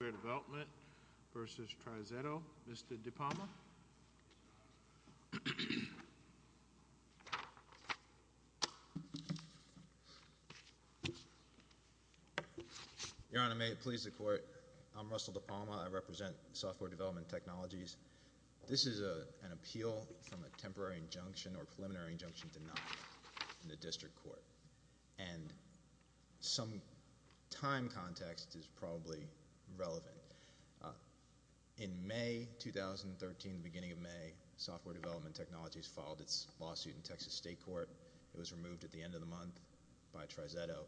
Development v. Trizetto. Mr. DePalma Your Honor, may it please the Court. I'm Russell DePalma. I represent Software Development Technologies. This is an appeal from a temporary injunction or preliminary injunction denied in the district court and some time context is probably relevant. In May 2013, the beginning of May, Software Development Technologies filed its lawsuit in Texas State Court. It was removed at the end of the month by Trizetto.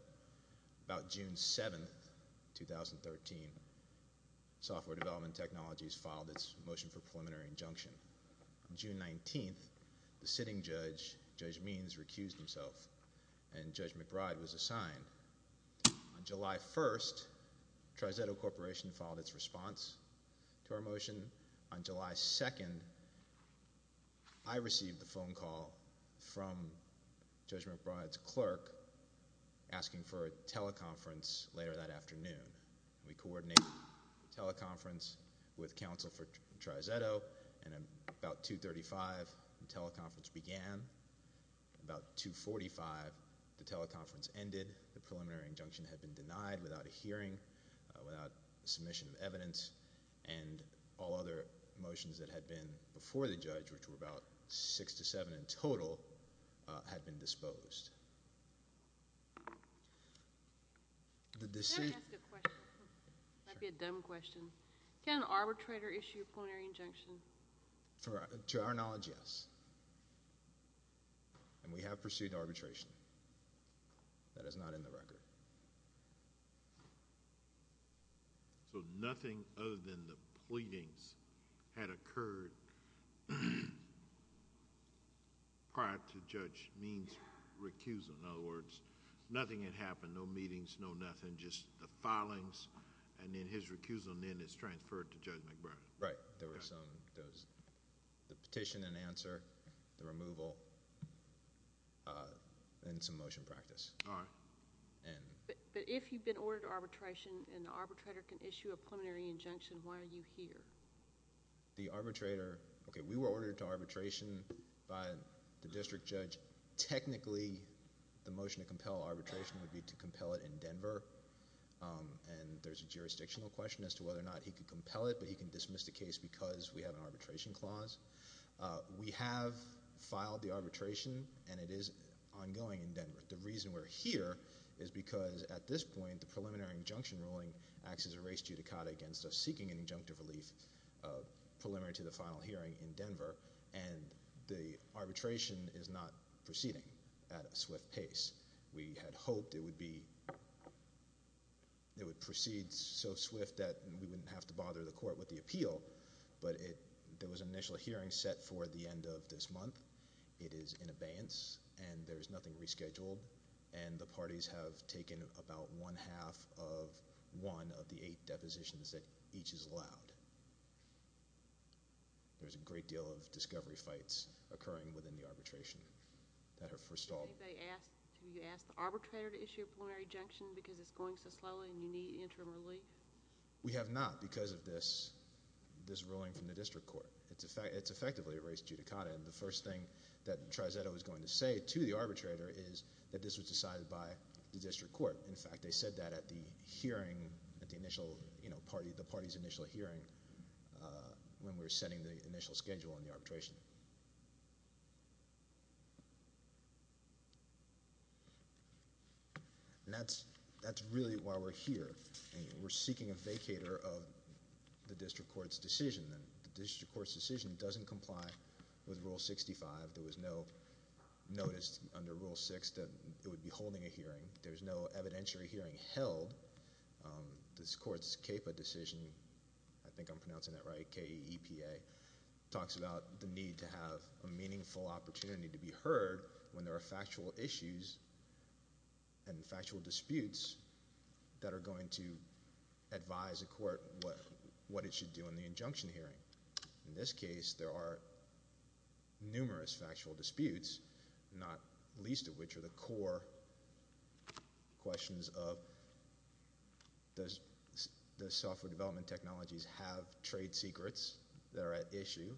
About June 7, 2013, Software Development Technologies filed its motion for preliminary injunction. June 19th, the sitting judge, Judge Means, recused himself and Judge McBride was assigned. On July 1st, Trizetto Corporation filed its response to our motion. On July 2nd, I received the phone call from Judge McBride's clerk asking for a teleconference later that afternoon. We coordinated teleconference with counsel for Trizetto and about 2.35, the teleconference began. About 2.45, the teleconference ended. The preliminary injunction had been denied without a hearing, without submission of evidence, and all other motions that had been before the judge, which were about six to seven in total, had been disposed. Can I ask a question? That would be a dumb question. Can an arbitrator issue a plenary injunction? To our knowledge, yes, and we have pursued arbitration. That is not in the record. So nothing other than the pleadings had occurred prior to when Judge Means recused himself. In other words, nothing had happened. No meetings, no nothing. Just the filings, and then his recusal is transferred to Judge McBride. Right. There were some... the petition and answer, the removal, and some motion practice. All right. If you've been ordered to arbitration, and the arbitrator can issue a preliminary injunction, why are you here? The arbitrator... okay, we were ordered to arbitration by the district judge. Technically, the motion to compel arbitration would be to compel it in Denver, and there's a jurisdictional question as to whether or not he could compel it, but he can dismiss the case because we have an arbitration clause. We have filed the arbitration, and it is ongoing in Denver. The reason we're here is because, at this point, the preliminary injunction ruling acts as a case judicata against us seeking an injunctive relief preliminary to the final hearing in Denver, and the arbitration is not proceeding at a swift pace. We had hoped it would be... it would proceed so swift that we wouldn't have to bother the court with the appeal, but there was an initial hearing set for the end of this month. It is in abeyance, and there's nothing rescheduled, and the parties have taken about one half of one of the eight depositions that each is allowed. There's a great deal of discovery fights occurring within the arbitration that are... Did anybody ask... did you ask the arbitrator to issue a preliminary injunction because it's going so slowly and you need interim relief? We have not because of this ruling from the district court. It's effectively a race judicata, and the first thing that Trizetto is going to say to the arbitrator is that this was decided by the district court. In fact, they said that at the hearing, at the initial, you know, the party's initial hearing when we were setting the initial schedule in the arbitration. That's really why we're here. We're seeking a vacator of the district court's decision. The district court's decision doesn't comply with Rule 65. There was no notice under Rule 6 that it would be holding a hearing. There's no evidentiary hearing held. This court's CAPA decision, I think I'm pronouncing that right, K-E-P-A, talks about the need to have a meaningful opportunity to be heard when there are factual issues and factual disputes that are going to advise a court what it should do in the injunction hearing. In this case, there are numerous factual disputes, not least of which are the core questions of does the software development technologies have trade secrets that are at issue?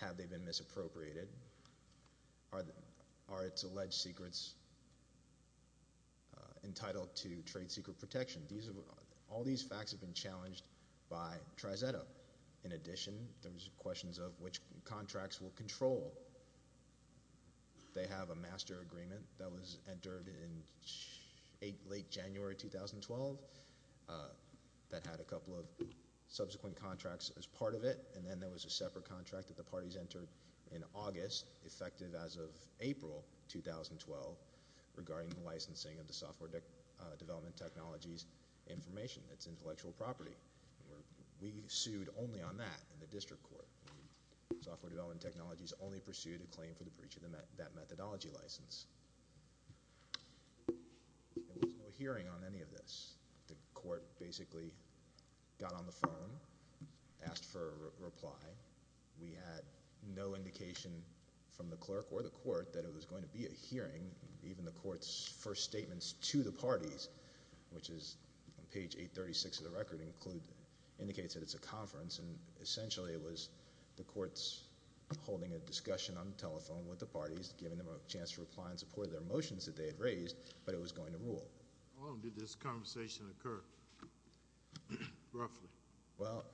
Have they been misappropriated? Are its alleged secrets entitled to trade secret protection? All these facts have been challenged by Trizetto. In addition, there's questions of which contracts will control. They have a master agreement that was entered in late January 2012 that had a couple of subsequent contracts as part of it, and then there was a separate contract that the parties entered in August, effective as of April 2012, regarding the licensing of the software development technologies information, its intellectual property. We sued only on that in the district court. Software development technologies only pursued a claim for the breach of that methodology license. There was no hearing on any of this. The court basically got on the phone, asked for a reply. We had no indication from the clerk or the court that it was going to be a hearing, even the court's first statements to the parties, which is on page 836 of the record, indicates that it's a conference, and essentially it was the courts holding a discussion on the telephone with the parties, giving them a chance to reply in support of their motions that they had raised, but it was going to rule. How long did this conversation occur, roughly? Well,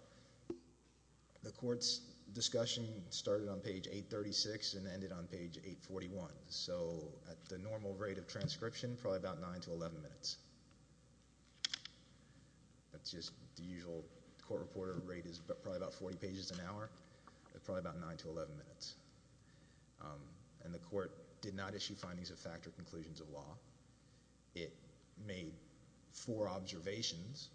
the court's discussion started on page 836 and ended on page 841, so at the normal rate of transcription, probably about nine to eleven minutes. The usual court reporter rate is probably about 40 pages an hour, probably about nine to eleven minutes. And the court did not issue findings of fact or conclusions of law. It made four observations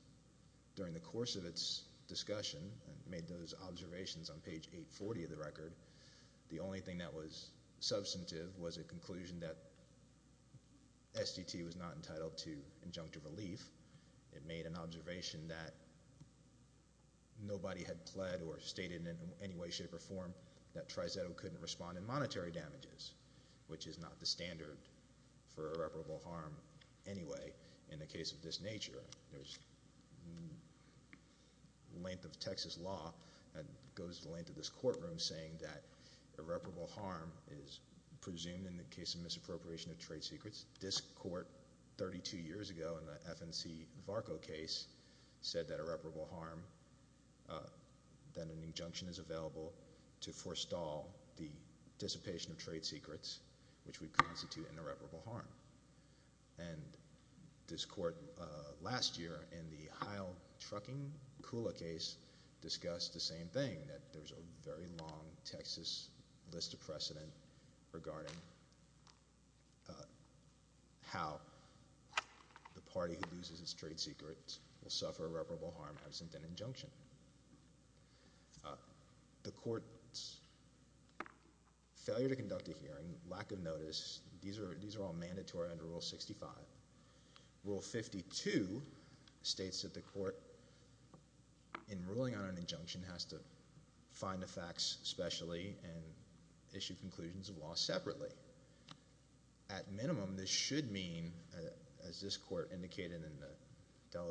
during the course of its discussion, and made those observations on page 840 of the record. The only thing that was substantive was a conclusion that SDT was not entitled to injunctive relief. It made an observation that nobody had pled or stated in any way, shape, or form that Trizetto couldn't respond in monetary damages, which is not the standard for irreparable harm anyway in the case of this nature. There's length of Texas law that goes the length of this courtroom saying that irreparable harm is presumed in the case of misappropriation of trade secrets. This FNC Varco case said that irreparable harm, that an injunction is available to forestall the dissipation of trade secrets, which would constitute an irreparable harm. And this court last year in the Heil trucking Kula case discussed the same thing, that there's a very long Texas list of precedent regarding how the party who loses its trade secrets will suffer irreparable harm absent an injunction. The court's failure to conduct a hearing, lack of notice, these are all mandatory under Rule 65. Rule 52 states that the court, in ruling on an injunction, has to find the facts specially and issue conclusions of law separately. At minimum, this should mean, as this court indicated in the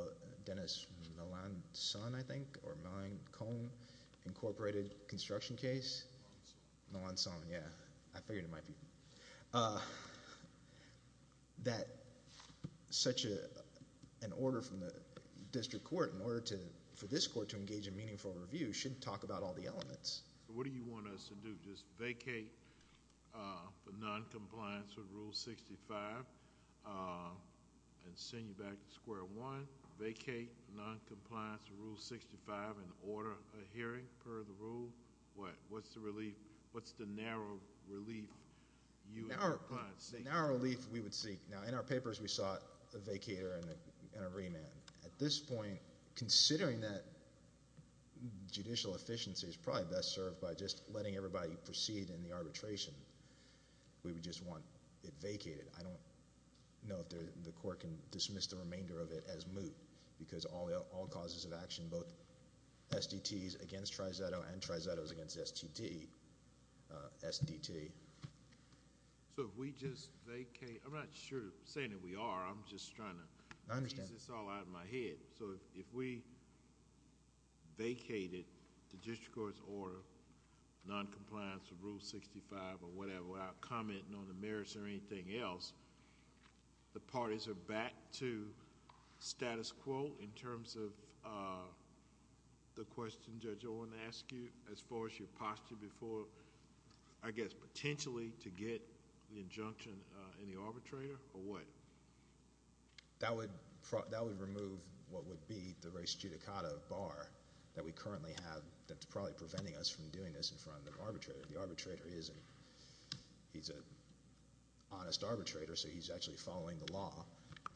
Dennis Melancon, I think, or Melancon Incorporated construction case. Melancon, yeah. I figured it might be. That such an order from the district court in order for this court to engage in meaningful review should talk about all the elements. What do you want us to do? Just vacate the non-compliance with Rule 65 and send you back to square one? Vacate non-compliance with Rule 65 and order a hearing per the rule? What's the relief? What's the narrow relief you would seek? Narrow relief we would seek. Now in our papers we saw a vacater and a remand. At this point, considering that judicial efficiency is probably best served by just letting everybody proceed in the arbitration, we would just want it vacated. I don't know if the court can dismiss the remainder of it as moot because all causes of action, both SDTs against tri-zetto and tri-zettos against the STD, SDT. So if we just vacate, I'm not sure, saying that we are, I'm just trying to... I understand. It's all out of my head. If we vacated the district court's order non-compliance with Rule 65 or whatever without commenting on the merits or anything else, the parties are back to status quo in terms of the question, Judge Owen, I ask you, as far as your posture before, I guess potentially to get the That would remove what would be the res judicata bar that we currently have that's probably preventing us from doing this in front of the arbitrator. The arbitrator isn't... he's an honest arbitrator, so he's actually following the law.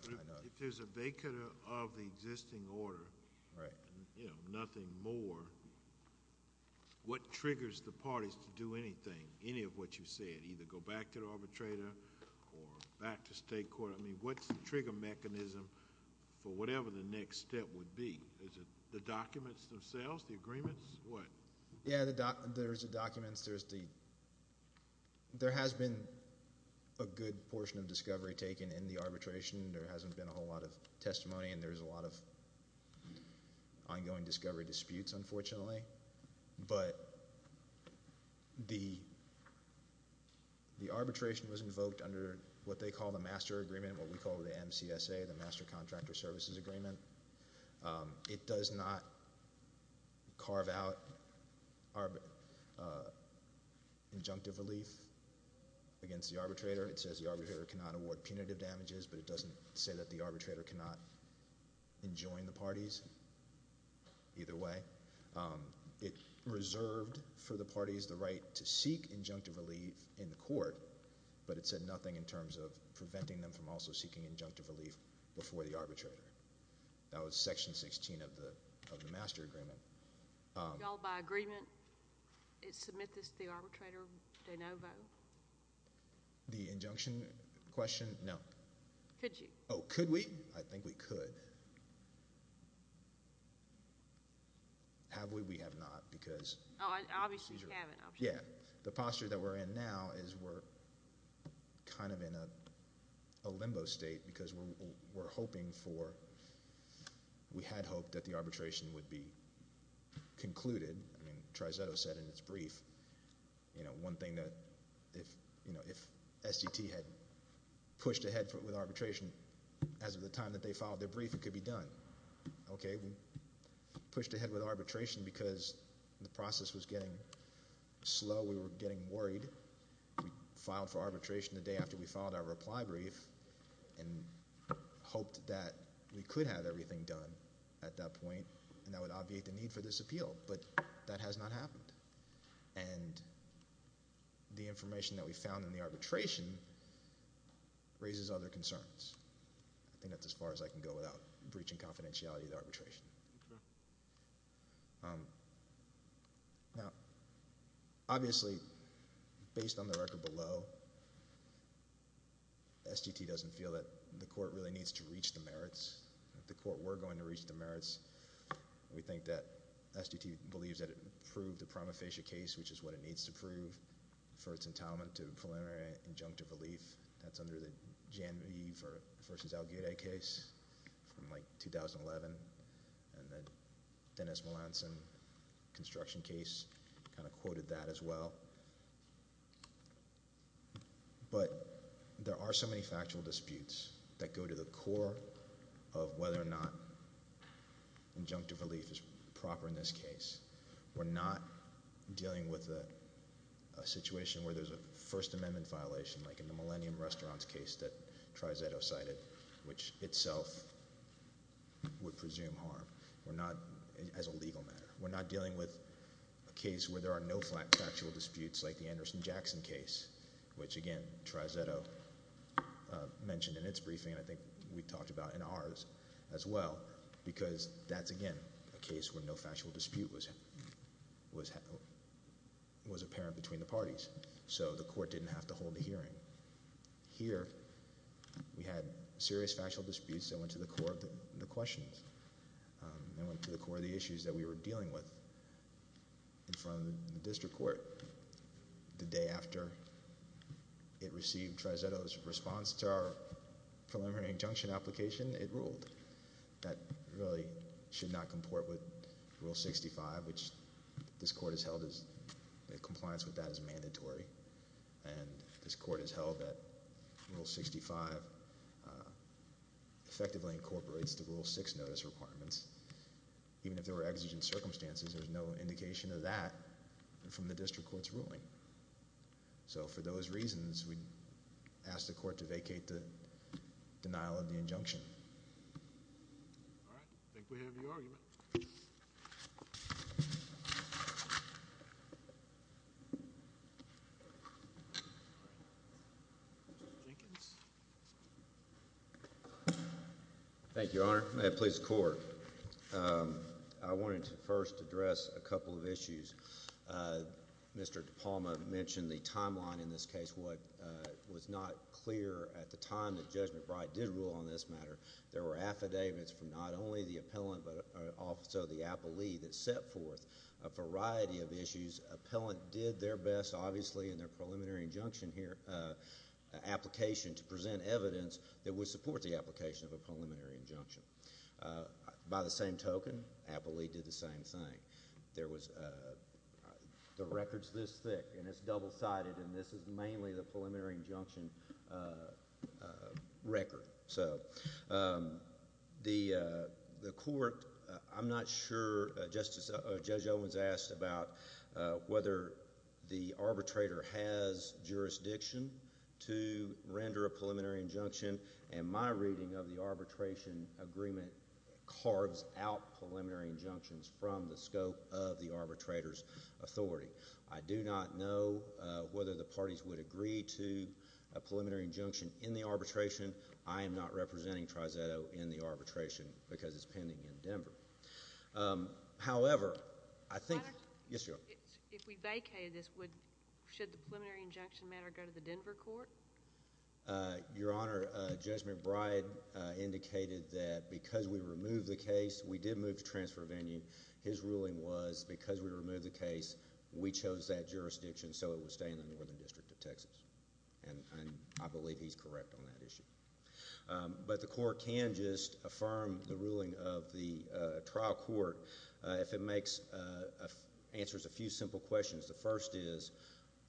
If there's a vacater of the existing order, you know, nothing more, what triggers the parties to do anything, any of what you said, either go back to the for whatever the next step would be. Is it the documents themselves, the agreements, what? Yeah, there's the documents. There's the... there has been a good portion of discovery taken in the arbitration. There hasn't been a whole lot of testimony, and there's a lot of ongoing discovery disputes, unfortunately. But the arbitration was invoked under what they call the master agreement, what we call the MCSA, the Master Contractor Services Agreement. It does not carve out injunctive relief against the arbitrator. It says the arbitrator cannot award punitive damages, but it doesn't say that the arbitrator cannot enjoin the parties, either way. It reserved for the parties the right to seek injunctive relief in the court, but it said nothing in terms of seeking injunctive relief before the arbitrator. That was Section 16 of the Master Agreement. Y'all by agreement submit this to the arbitrator de novo? The injunction question? No. Could you? Oh, could we? I think we could. Have we? We have not, because... Oh, obviously you haven't, I'm sure. Yeah, the posture that we're in now is we're kind of in a limbo state, because we're hoping for... we had hoped that the arbitration would be concluded. I mean, Trizetto said in its brief, you know, one thing that... if, you know, if SDT had pushed ahead with arbitration as of the time that they filed their brief, it could be done. Okay, we pushed ahead with arbitration because the process was getting slow. We were getting worried. We filed for arbitration the day after we filed our reply brief, and hoped that we could have everything done at that point, and that would obviate the need for this appeal, but that has not happened. And the information that we found in the arbitration raises other concerns. I think that's as far as I can go without breaching confidentiality of the arbitration. Okay. Now, obviously, based on the record below, SDT doesn't feel that the court really needs to reach the merits. If the court were going to reach the merits, we think that SDT believes that it proved the prima facie case, which is what it needs to prove, for its entitlement to preliminary injunctive relief. That's under the Jan V. v. Alguerra case from like the Dennis Melanson construction case, kind of quoted that as well. But there are so many factual disputes that go to the core of whether or not injunctive relief is proper in this case. We're not dealing with a situation where there's a First Amendment violation, like in the Millennium Restaurants case that Trizetto cited, which itself would not, as a legal matter. We're not dealing with a case where there are no factual disputes like the Anderson-Jackson case, which, again, Trizetto mentioned in its briefing and I think we talked about in ours as well, because that's, again, a case where no factual dispute was apparent between the parties. So the court didn't have to hold a hearing. Here, we had serious factual disputes that went to the core of the questions and went to the core of the issues that we were dealing with in front of the district court. The day after it received Trizetto's response to our preliminary injunction application, it ruled that it really should not comport with Rule 65, which this court has held that compliance with that is mandatory. And this court has held that Rule 65 effectively incorporates the Rule 6 notice requirements. Even if there were exigent circumstances, there's no indication of that from the district court's ruling. So for those reasons, we asked the court to address a couple of issues. Mr. DePalma mentioned the timeline in this case. What was not clear at the time that Judge McBride did rule on this matter, there were affidavits from not only the appellant, but also the appellee that set forth a variety of issues. Appellant did their best, obviously, in their preliminary injunction application to present evidence that would support the application of a preliminary injunction. By the same token, appellee did the same thing. The record's this thick, and it's double-sided, and this is mainly the case itself. The court, I'm not sure, Judge Owens asked about whether the arbitrator has jurisdiction to render a preliminary injunction, and my reading of the arbitration agreement carves out preliminary injunctions from the scope of the arbitrator's authority. I do not know whether the parties would agree to a preliminary injunction in the case, but I do know that the court is not presenting triceto in the arbitration because it's pending in Denver. However, I think... Yes, Your Honor. If we vacated this, should the preliminary injunction matter go to the Denver court? Your Honor, Judge McBride indicated that because we removed the case, we did move to transfer venue. His ruling was, because we removed the case, we chose that jurisdiction so it would stay in the Northern District of Texas, and I believe he's correct on that issue. But the court can just affirm the ruling of the trial court if it answers a few simple questions. The first is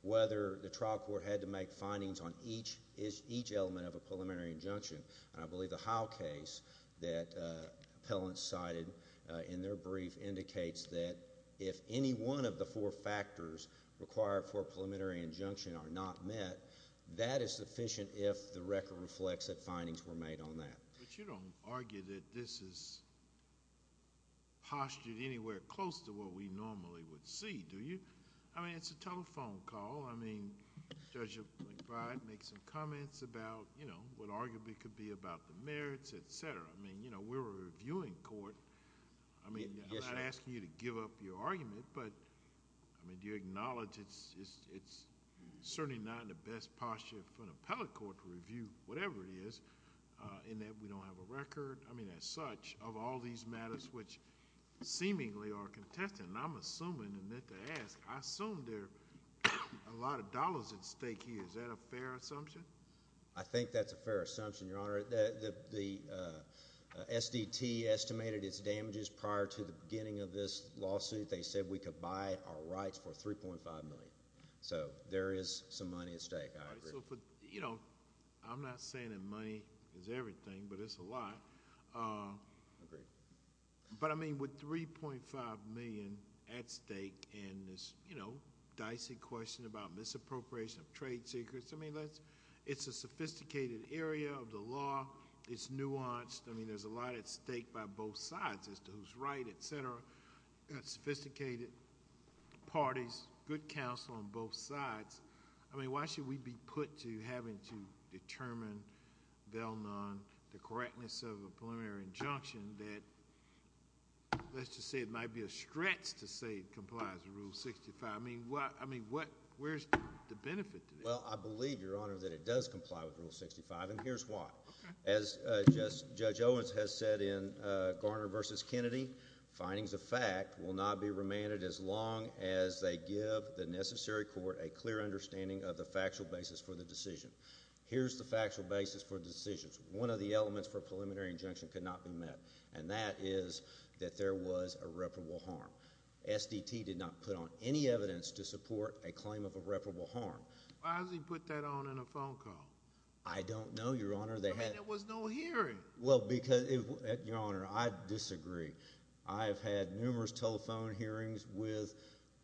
whether the trial court had to make findings on each element of a preliminary injunction, and I believe the Howe case that appellants cited in their brief indicates that if any one of the four factors required for a preliminary injunction are not met, that is sufficient if the record reflects that findings were made on that. But you don't argue that this is postured anywhere close to what we normally would see, do you? I mean, it's a telephone call. I mean, Judge McBride makes some comments about what arguably could be about the merits, et cetera. I mean, we're a reviewing court. I mean, I'm not asking you to give up your argument, but I mean, do you acknowledge it's certainly not in the best posture for an appellate court to review whatever it is in that we don't have a record, I mean, as such, of all these matters which seemingly are contested? And I'm assuming, and meant to ask, I assume there are a lot of dollars at stake here. Is that a fair assumption? I think that's a fair assumption, Your Honor. The SDT estimated its damages prior to the beginning of this lawsuit. They said we could buy our rights for $3.5 million. So there is some money at stake, I agree. You know, I'm not saying that money is everything, but it's a lot. I agree. But I mean, with $3.5 million at stake and this, you know, dicey question about misappropriation of trade secrets, I mean, it's a sophisticated area of the law. It's nuanced. I mean, there's a lot at stake by both sides as to who's right, et cetera, sophisticated parties, good counsel on both sides. I mean, why should we be put to having to determine, Vailnone, the correctness of a preliminary injunction that, let's just say it might be a stretch to say it complies with Rule 65. I mean, where's the benefit to that? Well, I believe, Your Honor, that it does comply with Rule 65, and here's why. As Judge Owens has said in Garner v. Kennedy, findings of a preliminary injunction cannot be demanded as long as they give the necessary court a clear understanding of the factual basis for the decision. Here's the factual basis for the decision. One of the elements for a preliminary injunction could not be met, and that is that there was irreparable harm. SDT did not put on any evidence to support a claim of irreparable harm. Why does he put that on in a phone call? I don't know, Your Honor. I mean, there was no hearing. Well, because, Your Honor, I disagree. I have had numerous telephone hearings with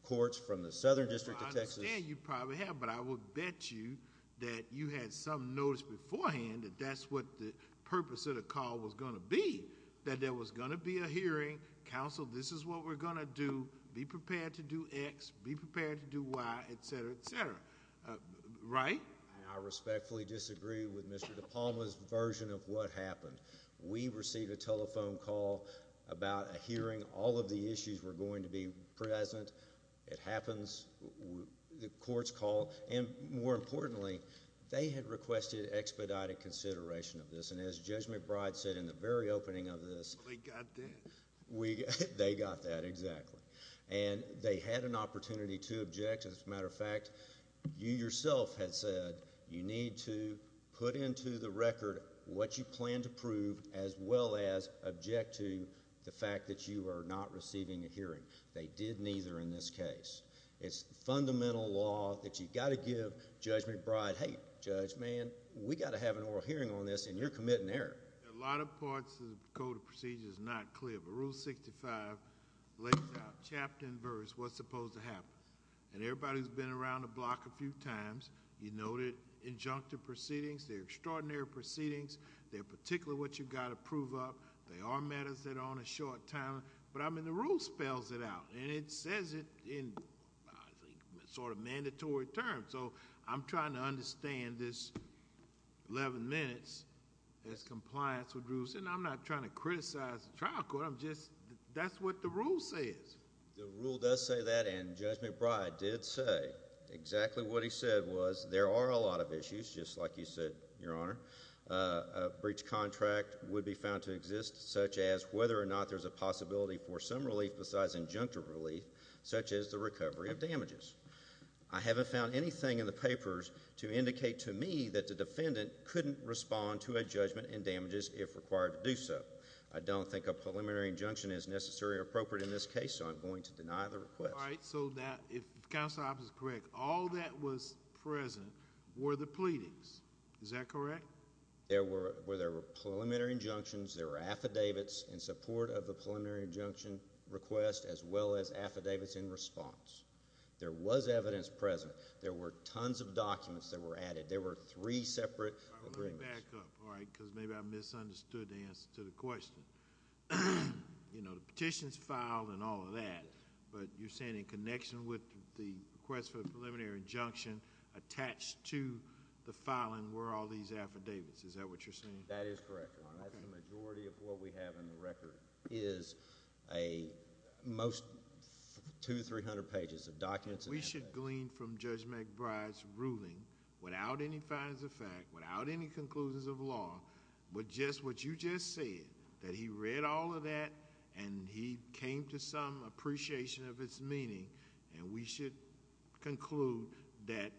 courts from the Southern District of Texas... Well, I understand you probably have, but I would bet you that you had some notice beforehand that that's what the purpose of the call was going to be, that there was going to be a hearing, counsel, this is what we're going to do, be prepared to do X, be prepared to do Y, et cetera, et cetera, right? I respectfully disagree with Mr. DePalma's version of what happened. We received a telephone call about a hearing. All of the issues were going to be present. It happens. The courts call. And, more importantly, they had requested expedited consideration of this, and as Judge McBride said in the very opening of this... Well, they got that. They got that, exactly. And, they had an opportunity to object. As a matter of fact, you yourself had said you need to put into the record what you plan to prove, as well as object to the fact that you are not receiving a hearing. They did neither in this case. It's the fundamental law that you've got to give Judge McBride, hey, Judge, man, we've got to have an oral hearing on this, and you're committing error. A lot of parts of the Code of Procedures is not clear, but Rule 65 lays out, chapter and verse, what's supposed to happen. And, everybody's been around the block a few times. You noted injunctive proceedings. They're extraordinary proceedings. They're particularly what you've got to prove up. They are matters that are on a short time. But, I mean, the Rule spells it out, and it says it in, I think, sort of mandatory terms. So, I'm trying to understand this 11 minutes as compliance with Rules, and I'm not trying to criticize the trial court. That's what the Rule says. The Rule does say that, and Judge McBride did say exactly what he said was there are a lot of issues, just like you said, Your Honor, a breach contract would be found to exist, such as whether or not there's a possibility for some relief besides injunctive relief, such as the recovery of damages. I haven't found anything in the papers to indicate to me that the defendant couldn't respond to a judgment and damages if required to do so. I don't think a preliminary injunction is necessary or appropriate in this case, so I'm going to deny the request. All right. So, if Counselor Hopps is correct, all that was present were the pleadings. Is that correct? There were preliminary injunctions, there were affidavits in support of the preliminary injunction request, as well as affidavits in response. There was evidence present. There were tons of documents that were added. There were three separate agreements. All right. Let me back up, all right, because maybe I misunderstood the answer to the question. You know, the petitions filed and all of that, but you're saying in connection with the request for the preliminary injunction attached to the filing were all these affidavits. Is that what you're saying? That is correct. All right. That's the majority of what we have in the record is a... most two, three hundred pages of documents... We should glean from Judge McBride's ruling, without any fines of fact, without any conclusions of law, but just what you just said, that he read all of that and he came to some appreciation of its meaning, and we should conclude that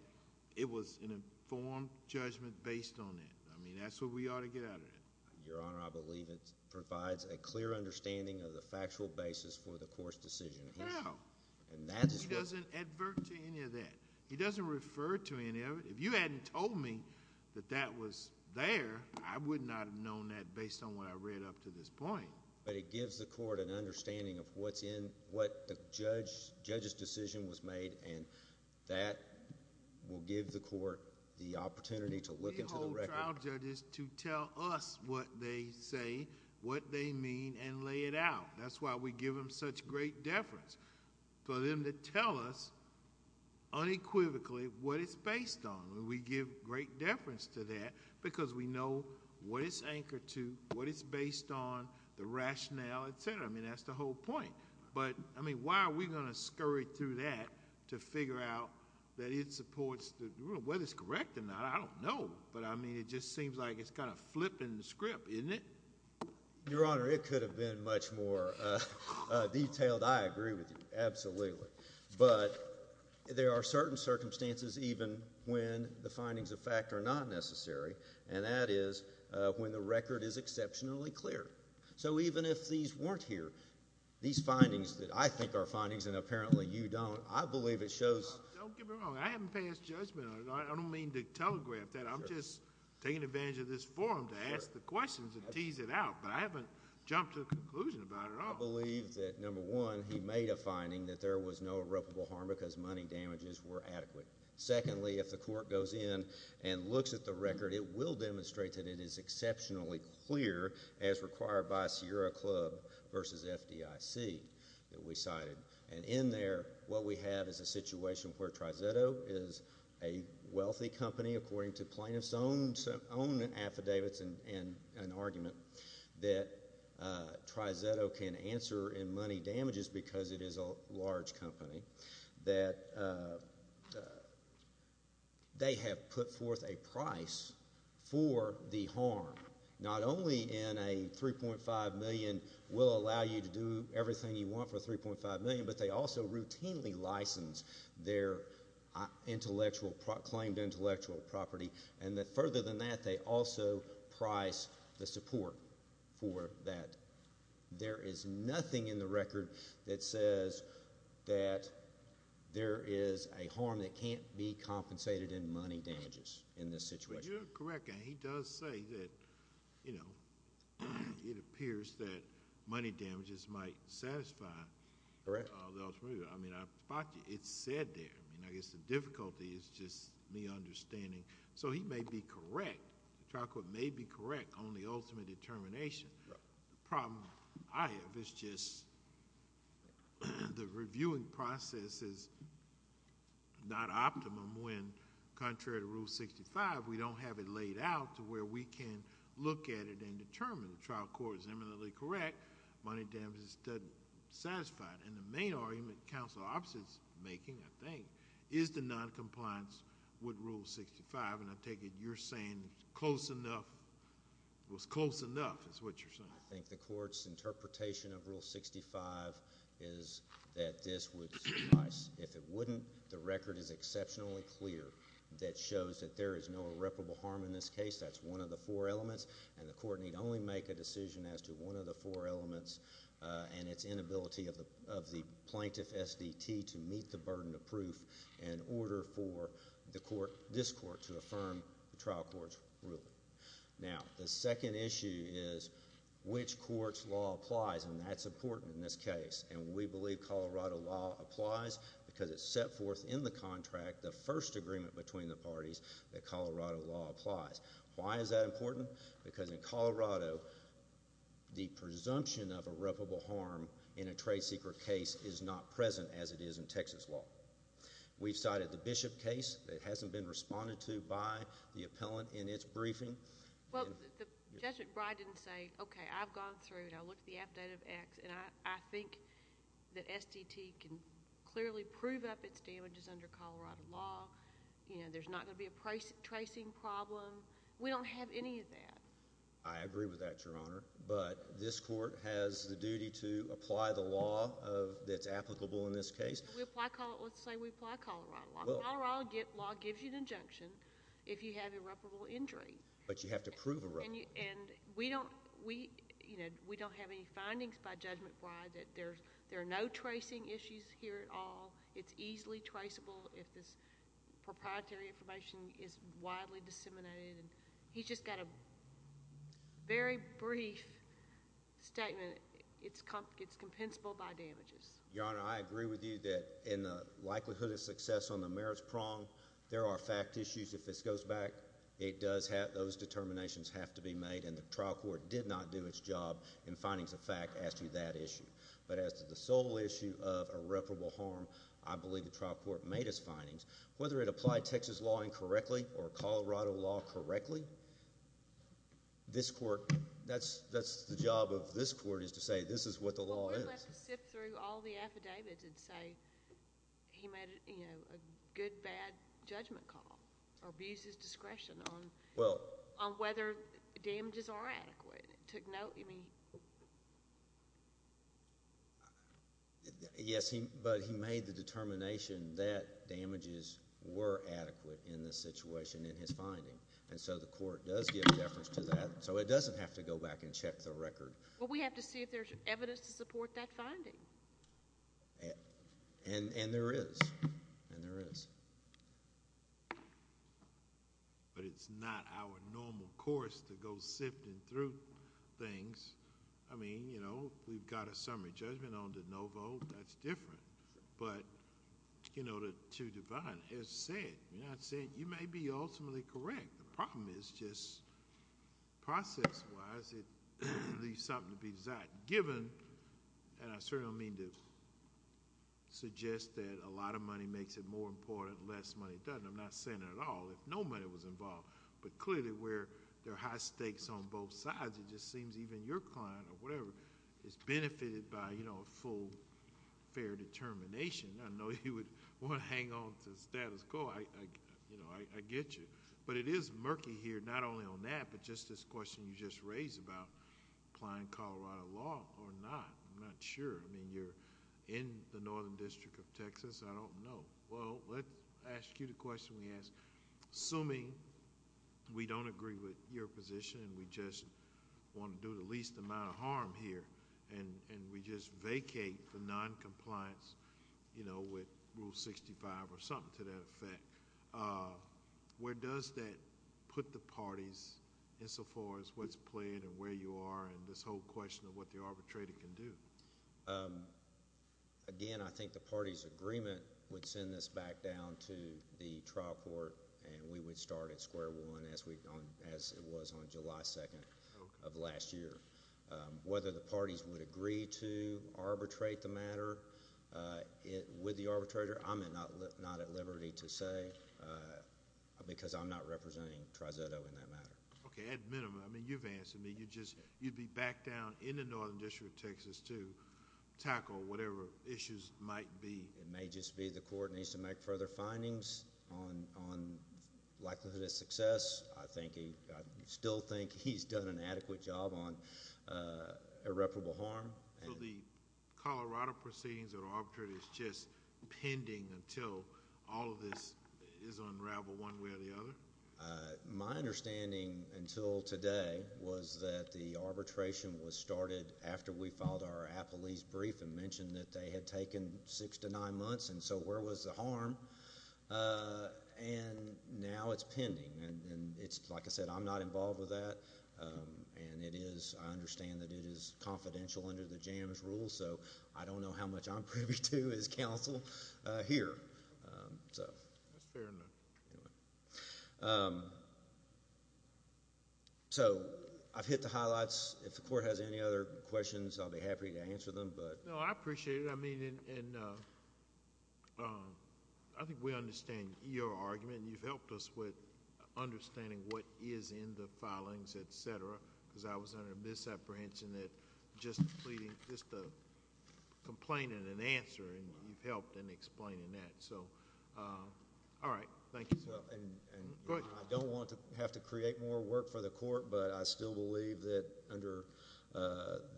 it was an informed judgment based on that. I mean, that's what we ought to get out of it. Your Honor, I believe it provides a clear understanding of the factual basis for the court's decision. How? He doesn't advert to any of that. He doesn't refer to any of it. If you hadn't told me that that was there, I would not have known that based on what I read up to this point. It gives the court an understanding of what's in... what the judge's decision was made, and that will give the court the opportunity to look into the record. We hold trial judges to tell us what they say, what they mean, and lay it out. That's why we give them such great deference. For them to tell us unequivocally what it's based on, we give great deference to that because we know what it's anchored to, what it's based on, the rationale, et cetera. I mean, that's the whole point. But, I mean, why are we going to scurry through that to figure out that it supports... whether it's correct or not, I don't know. But, I mean, it just seems like it's kind of flipping the script, isn't it? Your Honor, it could have been much more detailed. I agree with you, absolutely. But there are certain circumstances, even when the findings of fact are not necessary, and that is when the record is exceptionally clear. So, even if these weren't here, these findings that I think are findings and apparently you don't, I believe it shows... Don't get me wrong. I haven't passed judgment on it. I don't mean to telegraph that. I'm just taking advantage of this forum to ask the questions and tease it out, but I haven't jumped to a conclusion about it at all. I believe that, number one, he made a finding that there was no irreparable harm because money damages were adequate. Secondly, if the court goes in and looks at the record, it will demonstrate that it is exceptionally clear, as required by Sierra Club v. FDIC that we cited. And in there, what we have is a situation where Triseto is a wealthy company, according to plaintiff's own affidavits and an argument that Triseto can answer in money damages because it is a large company, that they have put forth a price for the harm. Not only in a $3.5 million, we'll allow you to do everything you want for $3.5 million, but they also routinely license their intellectual, claimed intellectual property. And further than that, they also price the support for that. There is nothing in the record that says that there is a harm that can't be compensated in money damages in this situation. You're correct, and he does say that it appears that money damages might satisfy... Correct.... the ultimate... I mean, I spot you. It's said there. I mean, I guess the difficulty is just me understanding. So he may be correct. The trial court may be correct on the ultimate determination. The problem I have is just the reviewing process is not optimum when, contrary to Rule 65, we don't have it laid out to where we can look at it and determine. The trial court is eminently correct. Money damages doesn't satisfy it. And the main argument counsel opposite is making, I think, is the noncompliance with Rule 65, and I take it you're saying close enough... it was close enough is what you're saying. I think the court's interpretation of Rule 65 is that this would suffice. If it wouldn't, the record is exceptionally clear that shows that there is no irreparable harm in this case. That's one of the four elements, and the court need only make a decision as to one of the four elements and its inability of the plaintiff, SDT, to meet the burden of proof in order for the case court to affirm the trial court's ruling. Now, the second issue is which court's law applies, and that's important in this case, and we believe Colorado law applies because it's set forth in the contract, the first agreement between the parties, that Colorado law applies. Why is that important? Because in Colorado, the presumption of irreparable harm in a trade secret case is not present as it is in Texas law. We've cited the Bishop case. It hasn't been responded to by the appellant in its briefing. Well, Judge McBride didn't say, okay, I've gone through and I looked at the update of X, and I think that SDT can clearly prove up its damages under Colorado law. There's not going to be a tracing problem. We don't have any of that. I agree with that, Your Honor, but this court has the duty to apply the law that's applicable in this case. Let's say we apply Colorado law. Colorado law gives you an injunction if you have irreparable injury. But you have to prove irreparable. We don't have any findings by Judge McBride that there are no tracing issues here at all. It's easily traceable if this proprietary information is widely disseminated. He's just got a very brief statement. It's compensable by damages. Your Honor, I agree with you that in the likelihood of success on the merits prong, there are fact issues. If this goes back, it does have those determinations have to be made, and the trial court did not do its job in finding the fact as to that issue. But as to the sole issue of irreparable harm, I believe the trial court made its findings. Whether it applied Texas law incorrectly or Colorado law correctly, this court, that's the job of this court is to say this is what the law is. Well, the court let us sift through all the affidavits and say he made a good, bad judgment call or abuses discretion on whether damages are adequate. It took note. Yes, but he made the determination that damages were adequate in the situation in his finding. And so the court does give deference to that. So it doesn't have to go back and check the record. Well, we have to see if there's evidence to support that finding. And there is. And there is. But it's not our normal course to go sifting through things. I mean, you know, we've got a summary judgment on the no vote. That's different. But, you know, to divide, as I said, you may be ultimately correct. The problem is just process-wise it leaves something to be desired. Given, and I certainly don't mean to suggest that a lot of money makes it more important, less money doesn't. I'm not saying that at all. If no money was involved, but clearly where there are high stakes on both sides, it just seems even your client or whatever is benefited by, you know, a full, fair determination. I know you would want to hang on to the status quo. You know, I get you. But it is murky here, not only on that, but just this question you just raised about applying Colorado law or not. I'm not sure. I mean, you're in the Northern District of Texas. I don't know. Well, let's ask you the question we asked. Assuming we don't agree with your position and we just want to do the least amount of harm here and we just vacate for noncompliance, you know, with Rule 65 or something to that extent, does that put the parties in so far as what's playing and where you are in this whole question of what the arbitrator can do? Again, I think the party's agreement would send this back down to the trial court and we would start at square one as it was on July 2nd of last year. Whether the parties would agree to arbitrate the matter with the court. I'm not representing Tri-Zetto in that matter. Okay. At minimum. I mean, you've answered me. You'd be back down in the Northern District of Texas to tackle whatever issues might be. It may just be the court needs to make further findings on likelihood of success. I still think he's done an adequate job on irreparable harm. So the Colorado proceedings that are arbitrated is just pending until all of this is unraveled one way or the other? My understanding until today was that the arbitration was started after we filed our appellee's brief and mentioned that they had taken six to nine months. And so where was the harm? And now it's pending. And it's, like I said, I'm not involved with that. And it is. I understand that it is confidential under the jams rules. So I don't know how much I'm privy to as counsel here. That's fair enough. So I've hit the highlights. If the court has any other questions, I'll be happy to answer them. No, I appreciate it. I mean, and I think we understand your argument. You've helped us with understanding what is in the filings, et cetera, because I was under the misapprehension that just the complaining and answering, you've helped in explaining that. So, all right. Thank you. Go ahead. I don't want to have to create more work for the court, but I still believe that under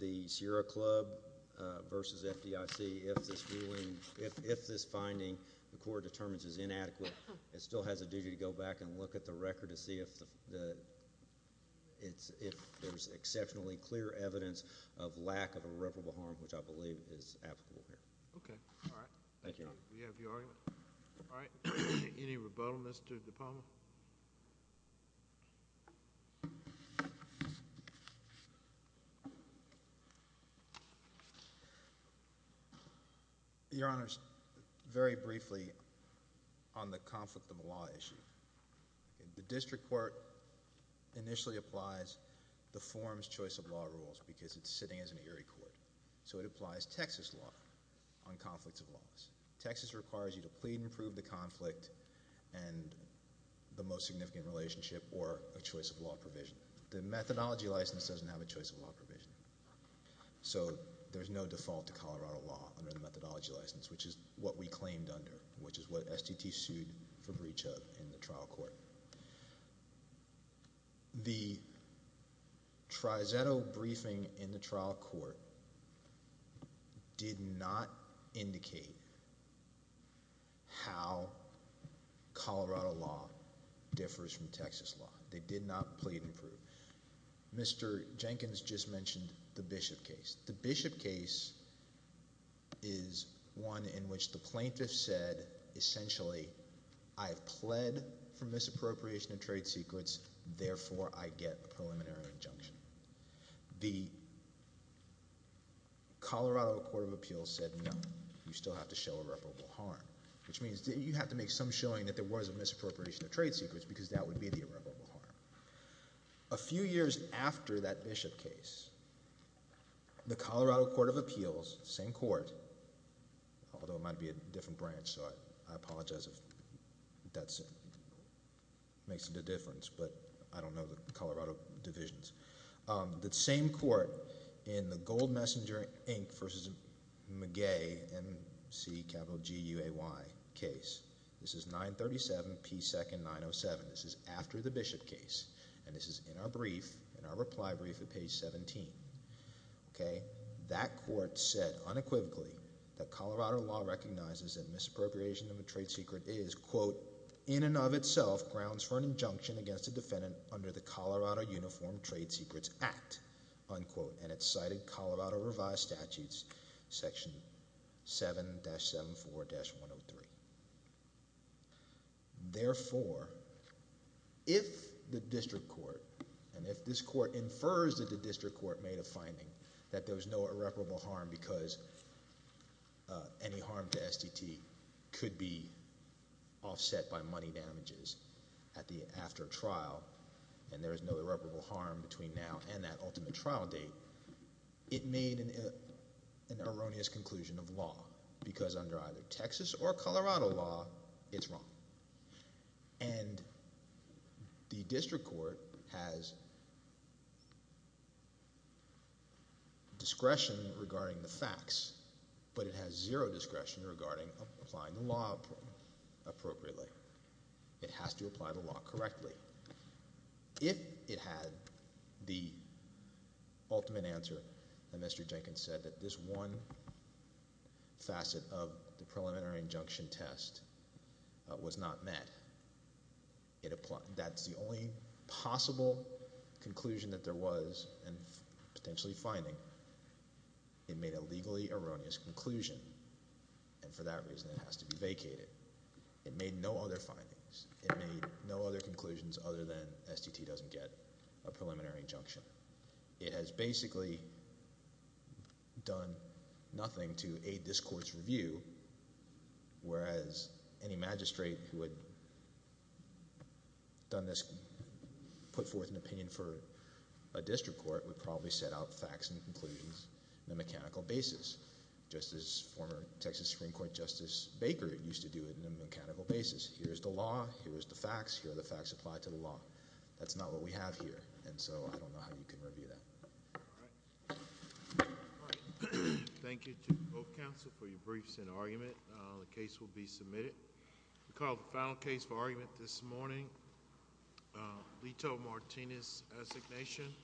the Sierra Club versus FDIC, if this ruling, if this finding the court determines is inadequate, it still has a duty to go back and look at the record to see if there's exceptionally clear evidence of lack of irreparable harm, which I believe is applicable here. Okay. All right. Thank you. Do you have your argument? All right. Any rebuttal, Mr. DiPaolo? Your Honor, very briefly on the conflict of the law issue. The district court initially applies the form's choice of law rules because it's sitting as an Erie court. So, it applies Texas law on conflicts of laws. Texas requires you to plead and prove the conflict and the most significant relationship or a choice of law provision. The methodology license doesn't have a choice of law provision. So, there's no default to Colorado law under the methodology license, which is what we claimed under, which is what STT sued for breach of in the trial court. The tri-zetto briefing in the trial court did not indicate how Colorado law differs from Texas law. They did not plead and prove. Mr. Jenkins just mentioned the Bishop case. The Bishop case is one in which the plaintiff said, essentially, I have pled for misappropriation of trade secrets. Therefore, I get a preliminary injunction. The Colorado Court of Appeals said, no, you still have to show irreparable harm, which means that you have to make some showing that there was a misappropriation of trade secrets because that would be the irreparable harm. A few years after that Bishop case, the Colorado Court of Appeals, same court, although it might be a different branch, so I apologize if that makes a difference, but I don't know the Colorado divisions. The same court in the Gold Messenger, Inc. v. McGay, M-C-G-U-A-Y case. This is 937 P. 2nd, 907. This is after the Bishop case, and this is in our brief, in our reply brief at page 17. That court said unequivocally that Colorado law recognizes that misappropriation of a trade secret is, quote, in and of itself grounds for an injunction against a defendant under the Colorado Uniform Trade Secrets Act, unquote, and it's cited Colorado revised statutes, section 7-74-103. Therefore, if the district court, and if this court infers that the district court made a finding that there was no irreparable harm because any harm to SDT could be offset by money damages at the after trial, and there is no irreparable harm between now and that ultimate trial date, it made an erroneous conclusion of Colorado law, it's wrong. And the district court has discretion regarding the facts, but it has zero discretion regarding applying the law appropriately. It has to apply the law correctly. If it had the ultimate answer that Mr. Jenkins said, that this one facet of the preliminary injunction test was not met, that's the only possible conclusion that there was and potentially finding. It made a legally erroneous conclusion, and for that reason it has to be vacated. It made no other findings. It made no other conclusions other than SDT doesn't get a preliminary injunction. It has basically done nothing to aid this court's review, whereas any magistrate who had done this, put forth an opinion for a district court would probably set out facts and conclusions in a mechanical basis, just as former Texas Supreme Court Justice Baker used to do it in a mechanical basis. Here's the law. Here's the facts. Here are the facts applied to the law. That's not what we have here, and so I don't know how you can review that. Thank you to both counsel for your briefs and argument. The case will be submitted. We call the final case for argument this morning. Lito Martinez, assignation.